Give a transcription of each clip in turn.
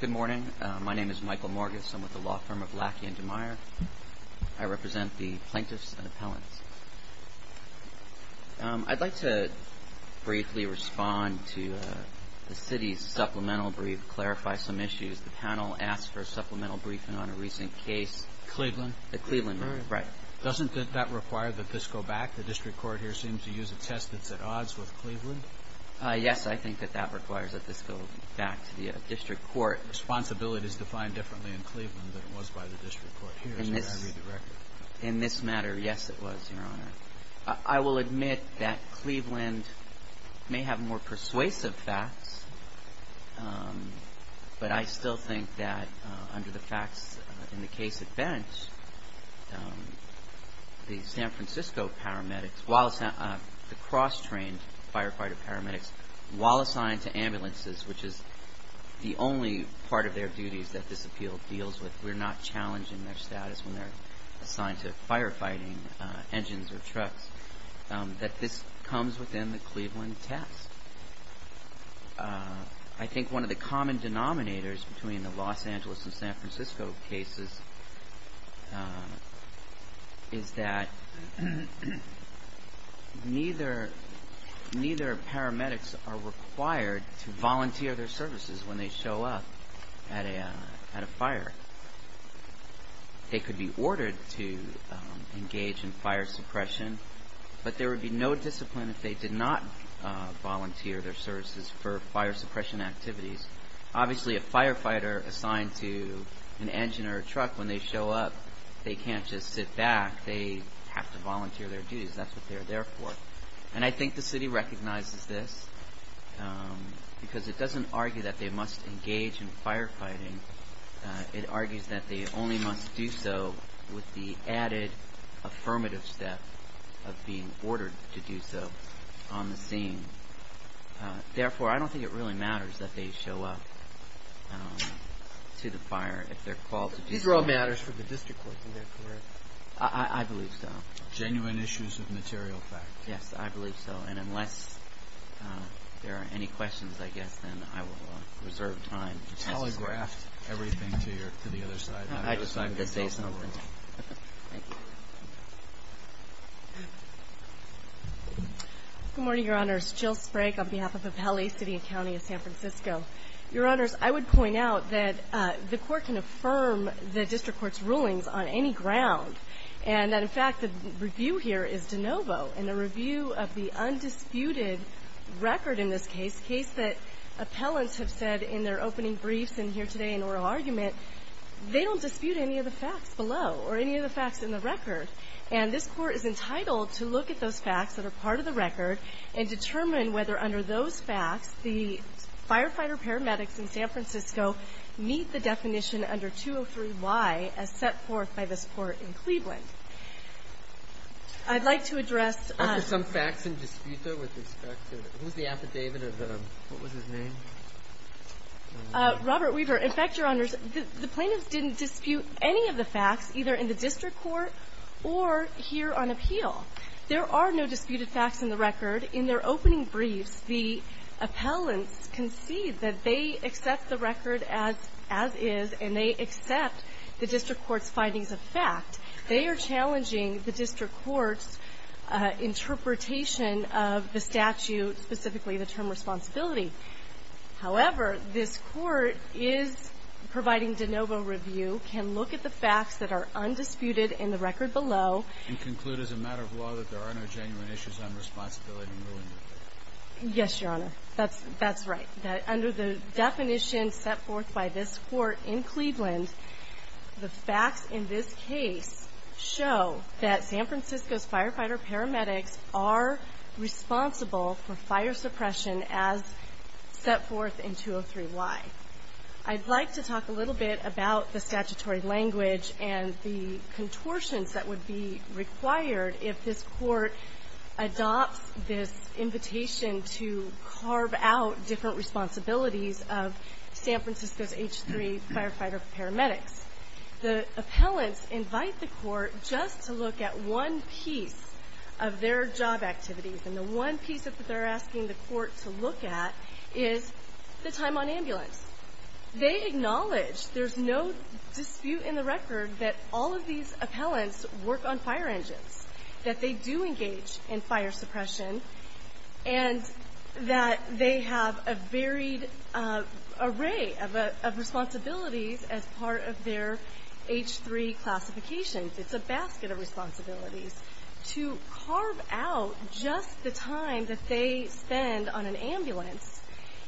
Good morning. My name is Michael Morgis. I'm with the law firm of Lackey & DeMeyer. I represent the plaintiffs and appellants. I'd like to briefly respond to the City's supplemental brief, clarify some issues. The panel asked for a supplemental briefing on a recent case. Cleveland? The Cleveland one, right. Doesn't that require that this go back? The district court here seems to use a test that's at odds with Cleveland. Yes, I think that that requires that this go back to the district court. Responsibility is defined differently in Cleveland than it was by the district court here, as I read the record. In this matter, yes it was, Your Honor. I will admit that Cleveland may have more persuasive facts, but I still think that under the facts in the case at bench, the San Francisco paramedics, the cross-trained firefighter paramedics, while assigned to ambulances, which is the only part of their duties that this appeal deals with, we're not challenging their status when they're assigned to firefighting engines or trucks, that this comes within the Cleveland test. I think one of the common denominators between the Los Angeles and San Francisco cases is that neither paramedics are required to volunteer their services when they show up at a fire. They could be ordered to engage in fire suppression, but there would be no discipline if they did not volunteer their services for fire suppression activities. Obviously, a firefighter assigned to an engine or a truck, when they show up, they can't just sit back. They have to volunteer their duties. That's what they're there for. And I think the city recognizes this, because it doesn't argue that they must engage in firefighting. It argues that they only must do so with the added affirmative step of being ordered to do so on the scene. Therefore, I don't think it really matters that they show up to the fire if they're called to do so. These are all matters for the district court, is that correct? I believe so. Genuine issues of material fact. Yes, I believe so. And unless there are any questions, I guess, then I will reserve time. Thank you. Good morning, Your Honors. Jill Sprague on behalf of Appellee City and County of San Francisco. Your Honors, I would point out that the Court can affirm the district court's rulings on any ground, and that, in fact, the review here is de novo in the review of the undisputed record in this case, that appellants have said in their opening briefs and here today in oral argument, they don't dispute any of the facts below or any of the facts in the record. And this Court is entitled to look at those facts that are part of the record and determine whether, under those facts, the firefighter paramedics in San Francisco meet the definition under 203Y as set forth by this Court in Cleveland. I'd like to address After some facts in disputa with respect to the – who's the affidavit of the – what was his name? Robert Weaver. In fact, Your Honors, the plaintiffs didn't dispute any of the facts either in the district court or here on appeal. There are no disputed facts in the record. In their opening briefs, the appellants concede that they accept the record as is, and they accept the district court's findings of fact. They are challenging the district court's interpretation of the statute, specifically the term responsibility. However, this Court is providing de novo review, can look at the facts that are undisputed in the record below. And conclude as a matter of law that there are no genuine issues on responsibility and ruling. Yes, Your Honor. That's right. That under the definition set forth by this Court in Cleveland, the facts in this case show that San Francisco's firefighter paramedics are responsible for fire suppression as set forth in 203Y. I'd like to talk a little bit about the statutory language and the contortions that would be required if this Court adopts this invitation to carve out different responsibilities of San Francisco's H3 firefighter paramedics. The appellants invite the Court just to look at one piece of their job activities, and the one piece that they're asking the Court to look at is the time on ambulance. They acknowledge there's no dispute in the record that all of these appellants work on fire engines, that they do engage in fire suppression, and that they have a varied array of responsibilities as part of their H3 classifications. It's a basket of responsibilities. To carve out just the time that they spend on an ambulance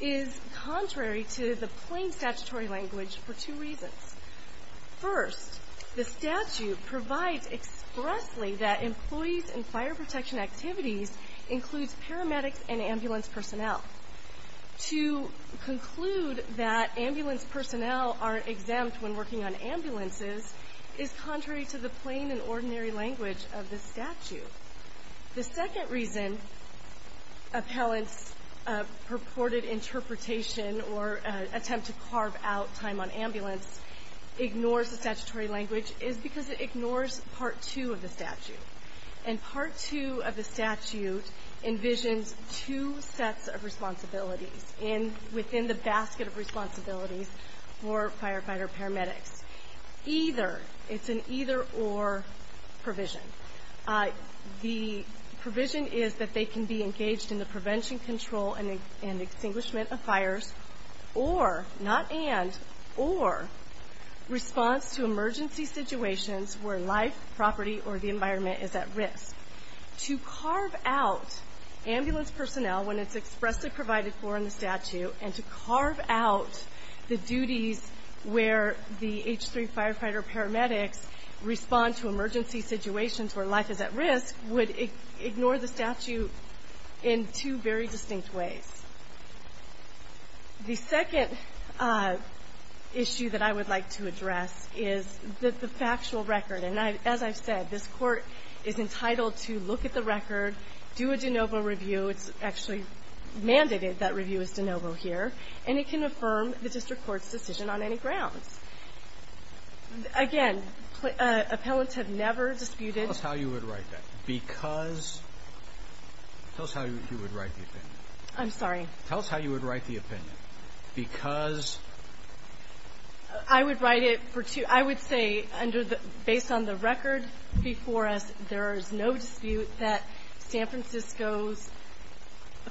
is contrary to the plain statutory language for two reasons. First, the statute provides expressly that employees in fire protection activities includes paramedics and ambulance personnel. To conclude that ambulance personnel aren't exempt when working on ambulances is contrary to the plain and ordinary language of the statute. The second reason appellants' purported interpretation or attempt to carve out time on ambulance ignores the statutory language is because it ignores Part 2 of the statute, and Part 2 of the statute envisions two sets of responsibilities within the basket of responsibilities for firefighter paramedics. It's an either-or provision. The provision is that they can be engaged in the prevention, control, and extinguishment of fires, or, not and, or response to emergency situations where life, property, or the environment is at risk. To carve out ambulance personnel when it's expressly provided for in the statute, and to carve out the duties where the H3 firefighter paramedics respond to emergency situations where life is at risk would ignore the statute in two very distinct ways. The second issue that I would like to address is the factual record. And as I've said, this Court is entitled to look at the record, do a de novo review. It's actually mandated that review is de novo here. And it can affirm the district court's decision on any grounds. Again, appellants have never disputed ---- Tell us how you would write that. Because ---- Tell us how you would write that. I'm sorry. Tell us how you would write the opinion. Because ---- I would write it for two. I would say under the ---- based on the record before us, there is no dispute that San Francisco's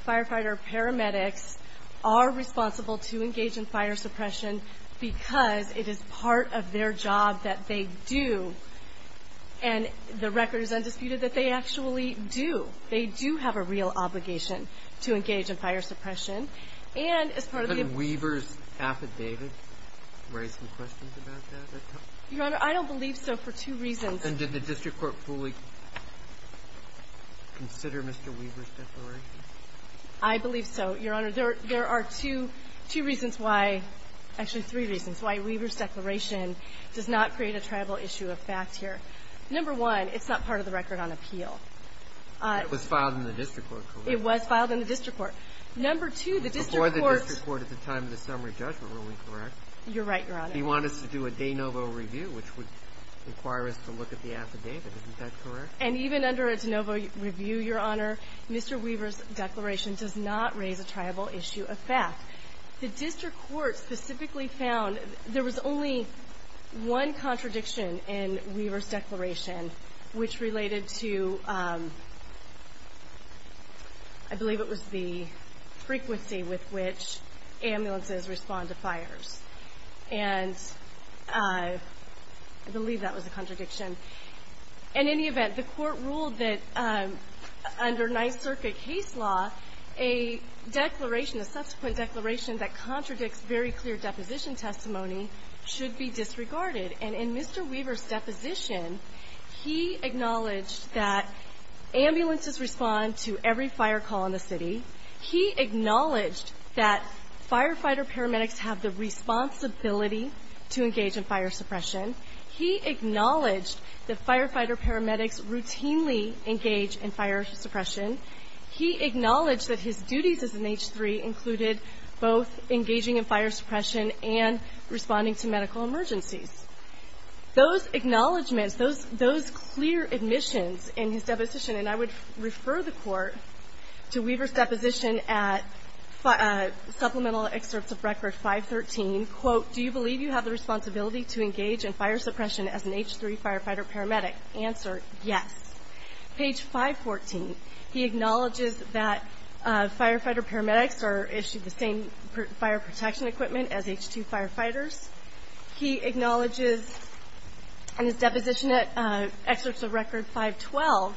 firefighter paramedics are responsible to engage in fire suppression because it is part of their job that they do. And the record is undisputed that they actually do. They do have a real obligation to engage in fire suppression. And as part of the ---- Could Weaver's affidavit raise some questions about that? Your Honor, I don't believe so for two reasons. And did the district court fully consider Mr. Weaver's declaration? I believe so, Your Honor. There are two reasons why ---- actually, three reasons why Weaver's declaration does not create a tribal issue of fact here. Number one, it's not part of the record on appeal. It was filed in the district court, correct? It was filed in the district court. Number two, the district court ---- Before the district court at the time of the summary judgment, were we correct? You're right, Your Honor. He wanted us to do a de novo review, which would require us to look at the affidavit. Isn't that correct? And even under a de novo review, Your Honor, Mr. Weaver's declaration does not raise a tribal issue of fact. The district court specifically found there was only one contradiction in Weaver's I believe it was the frequency with which ambulances respond to fires. And I believe that was a contradiction. In any event, the court ruled that under Ninth Circuit case law, a declaration, a subsequent declaration that contradicts very clear deposition testimony, should be disregarded. And in Mr. Weaver's deposition, he acknowledged that ambulances respond to every fire call in the city. He acknowledged that firefighter paramedics have the responsibility to engage in fire suppression. He acknowledged that firefighter paramedics routinely engage in fire suppression. He acknowledged that his duties as an H-3 included both engaging in fire suppression and responding to medical emergencies. Those acknowledgments, those clear admissions in his deposition, and I would refer the court to Weaver's deposition at Supplemental Excerpts of Record 513, quote, do you believe you have the responsibility to engage in fire suppression as an H-3 firefighter paramedic? Answer, yes. Page 514, he acknowledges that firefighter paramedics are issued the same fire protection equipment as H-2 firefighters. He acknowledges in his deposition at Excerpts of Record 512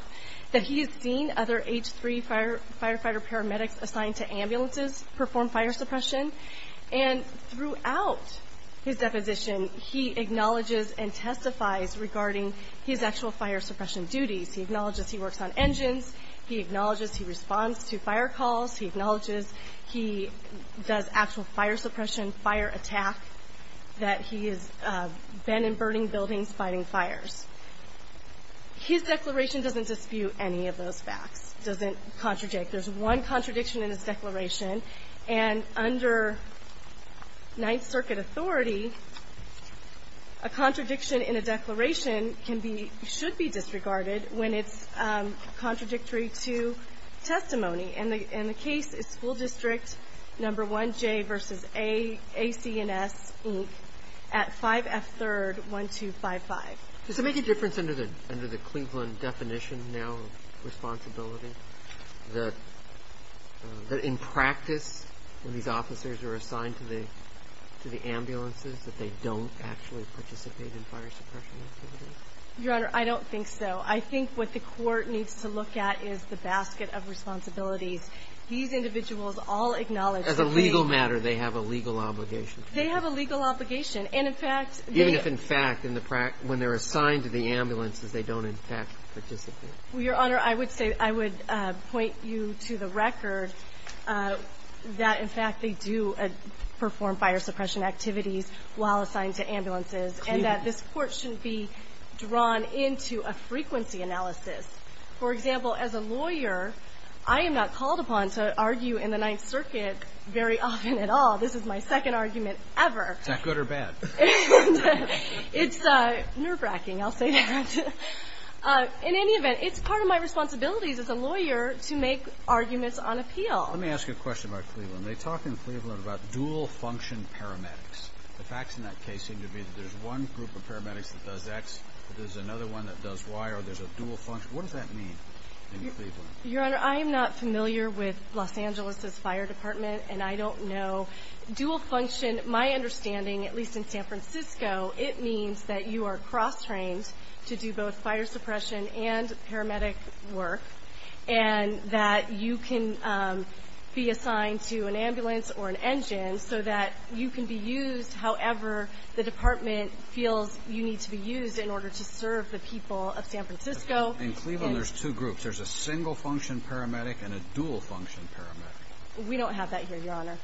that he has seen other H-3 firefighter paramedics assigned to ambulances perform fire suppression. And throughout his deposition, he acknowledges and testifies regarding his actual fire suppression duties. He acknowledges he works on engines. He acknowledges he responds to fire calls. He acknowledges he does actual fire suppression, fire attack, that he has been in burning buildings fighting fires. His declaration doesn't dispute any of those facts, doesn't contradict. There's one contradiction in his declaration, and under Ninth Circuit authority, a contradiction in a declaration can be, should be disregarded when it's contradictory to testimony. And the case is School District No. 1J v. AC&S, Inc., at 5F 3rd, 1255. Does it make a difference under the Cleveland definition now of responsibility that in practice, when these officers are assigned to the ambulances, that they don't actually participate in fire suppression activities? Your Honor, I don't think so. I think what the Court needs to look at is the basket of responsibilities. These individuals all acknowledge that they ---- As a legal matter, they have a legal obligation. They have a legal obligation. And, in fact, the ---- Even if, in fact, when they're assigned to the ambulances, they don't, in fact, participate. Well, Your Honor, I would say, I would point you to the record that, in fact, they do perform fire suppression activities while assigned to ambulances, and that this Court shouldn't be drawn into a frequency analysis. For example, as a lawyer, I am not called upon to argue in the Ninth Circuit very often at all. This is my second argument ever. Is that good or bad? It's nerve-wracking, I'll say that. In any event, it's part of my responsibilities as a lawyer to make arguments on appeal. Let me ask you a question about Cleveland. They talk in Cleveland about dual-function paramedics. The facts in that case seem to be that there's one group of paramedics that does X, there's another one that does Y, or there's a dual function. What does that mean in Cleveland? Your Honor, I am not familiar with Los Angeles' fire department, and I don't know. Dual function, my understanding, at least in San Francisco, it means that you are cross-trained to do both fire suppression and paramedic work, and that you can be assigned to an ambulance or an engine so that you can be used however the department feels you need to be used in order to serve the people of San Francisco. In Cleveland, there's two groups. There's a single-function paramedic and a dual-function paramedic. We don't have that here, Your Honor.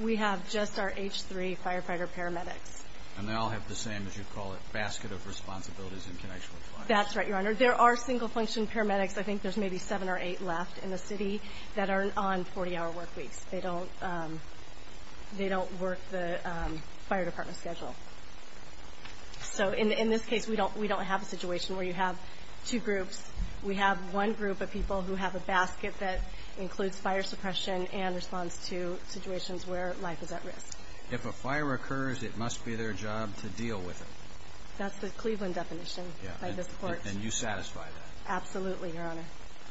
We have just our H-3 firefighter paramedics. And they all have the same, as you call it, basket of responsibilities in connection with fire. That's right, Your Honor. There are single-function paramedics. I think there's maybe seven or eight left in the city that are on 40-hour work weeks. They don't work the fire department schedule. So in this case, we don't have a situation where you have two groups. We have one group of people who have a basket that includes fire suppression and responds to situations where life is at risk. If a fire occurs, it must be their job to deal with it. That's the Cleveland definition by this court. And you satisfy that? Absolutely, Your Honor.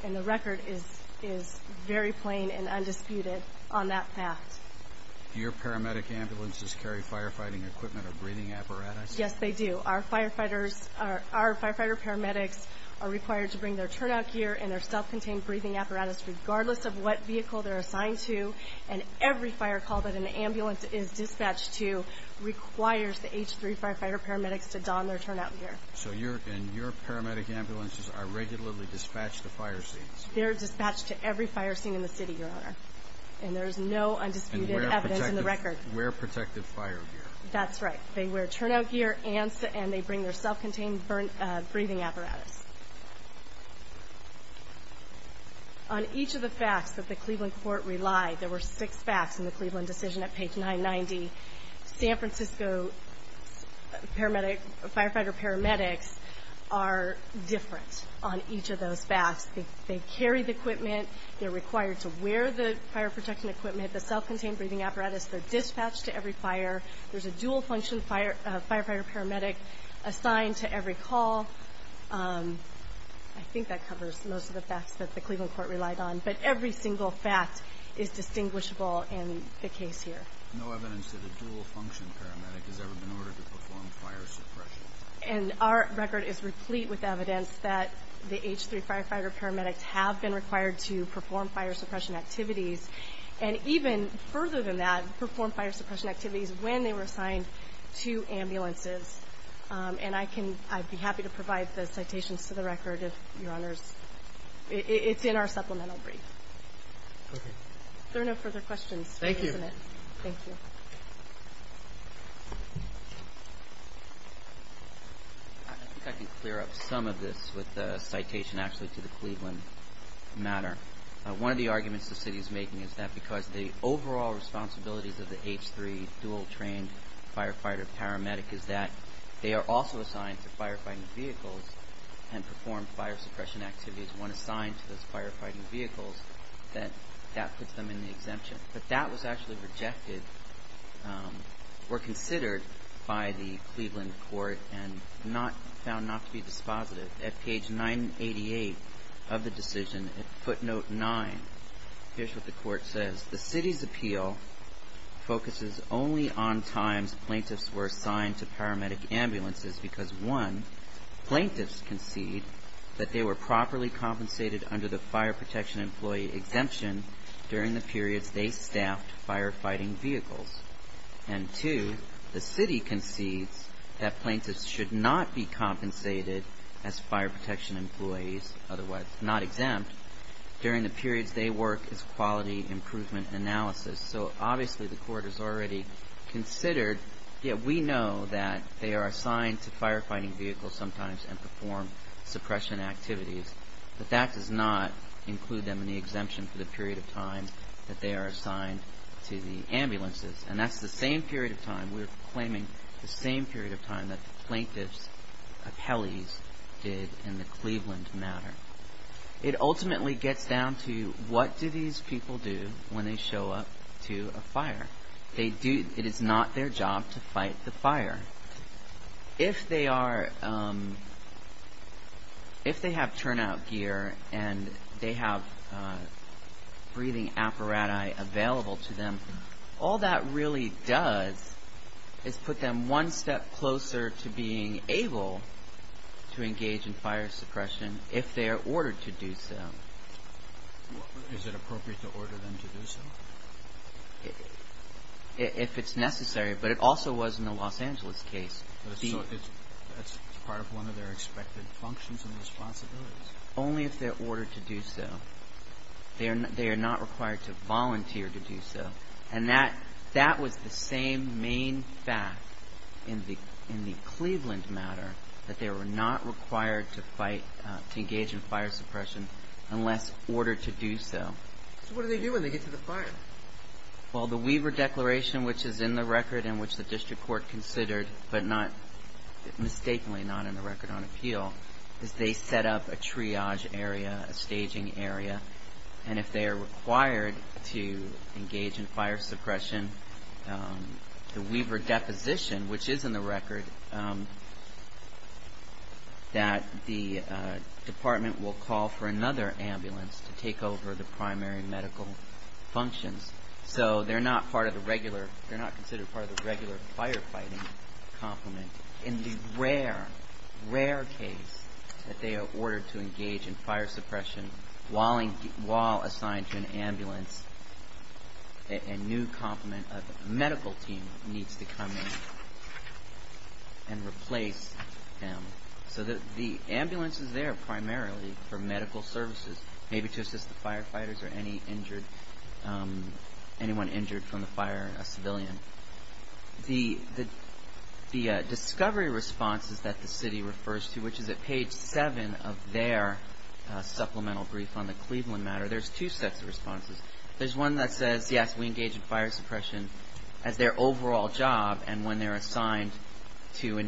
And the record is very plain and undisputed on that fact. Do your paramedic ambulances carry firefighting equipment or breathing apparatus? Yes, they do. Our firefighters, our firefighter paramedics are required to bring their turnout gear and their self-contained breathing apparatus regardless of what vehicle they're assigned to. And every fire call that an ambulance is dispatched to requires the H-3 firefighter paramedics to don their turnout gear. So your paramedic ambulances are regularly dispatched to fire scenes? They're dispatched to every fire scene in the city, Your Honor. And there's no undisputed evidence in the record. And wear protective fire gear? That's right. They wear turnout gear and they bring their self-contained breathing apparatus. On each of the facts that the Cleveland court relied, there were six facts in the Cleveland decision at page 990. San Francisco firefighter paramedics are different on each of those facts. They carry the equipment. They're required to wear the fire protection equipment, the self-contained breathing apparatus. They're dispatched to every fire. There's a dual-function firefighter paramedic assigned to every call. I think that covers most of the facts that the Cleveland court relied on. But every single fact is distinguishable in the case here. No evidence that a dual-function paramedic has ever been ordered to perform fire suppression. And our record is replete with evidence that the H3 firefighter paramedics have been required to perform fire suppression activities, and even further than that, perform fire suppression activities when they were assigned to ambulances. And I'd be happy to provide the citations to the record, Your Honors. It's in our supplemental brief. Okay. There are no further questions. Thank you. Thank you. I think I can clear up some of this with a citation actually to the Cleveland matter. One of the arguments the city is making is that because the overall responsibilities of the H3 dual-trained firefighter paramedic is that they are also assigned to firefighting vehicles and perform fire suppression activities when assigned to those firefighting vehicles, that that puts them in the exemption. But that was actually rejected or considered by the Cleveland court and found not to be dispositive. At page 988 of the decision, footnote 9, here's what the court says. The city's appeal focuses only on times plaintiffs were assigned to paramedic ambulances because, one, plaintiffs concede that they were properly compensated under the fire protection employee exemption during the periods they staffed firefighting vehicles. And, two, the city concedes that plaintiffs should not be compensated as fire protection employees, otherwise not exempt, during the periods they work as quality improvement analysis. So, obviously, the court has already considered. Yet we know that they are assigned to firefighting vehicles sometimes and perform suppression activities. But that does not include them in the exemption for the period of time that they are assigned to the ambulances. And that's the same period of time, we're claiming the same period of time, that the plaintiffs' appellees did in the Cleveland matter. It ultimately gets down to what do these people do when they show up to a fire. It is not their job to fight the fire. If they have turnout gear and they have breathing apparati available to them, all that really does is put them one step closer to being able to engage in fire suppression if they are ordered to do so. Is it appropriate to order them to do so? If it's necessary, but it also was in the Los Angeles case. So it's part of one of their expected functions and responsibilities. Only if they're ordered to do so. They are not required to volunteer to do so. And that was the same main fact in the Cleveland matter, that they were not required to engage in fire suppression unless ordered to do so. So what do they do when they get to the fire? Well, the Weaver Declaration, which is in the record and which the district court considered, but not, mistakenly not in the record on appeal, is they set up a triage area, a staging area. And if they are required to engage in fire suppression, that the department will call for another ambulance to take over the primary medical functions. So they're not considered part of the regular firefighting complement. In the rare, rare case that they are ordered to engage in fire suppression while assigned to an ambulance, a new complement of medical team needs to come in and replace them. So the ambulance is there primarily for medical services, maybe to assist the firefighters or anyone injured from the fire, a civilian. The discovery responses that the city refers to, which is at page seven of their supplemental brief on the Cleveland matter, there's two sets of responses. There's one that says, yes, we engage in fire suppression as their overall job and when they're assigned to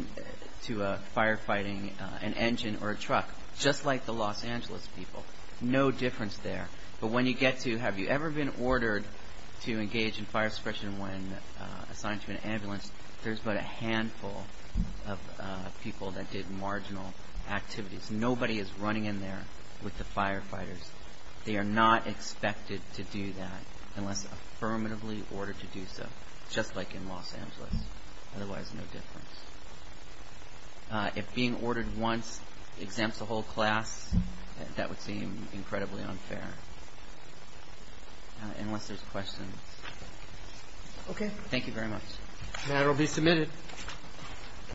firefighting, an engine or a truck, just like the Los Angeles people. No difference there. But when you get to, have you ever been ordered to engage in fire suppression when assigned to an ambulance, there's but a handful of people that did marginal activities. Nobody is running in there with the firefighters. They are not expected to do that unless affirmatively ordered to do so, just like in Los Angeles. Otherwise, no difference. If being ordered once exempts the whole class, that would seem incredibly unfair. Unless there's questions. Okay. Thank you very much. The matter will be submitted.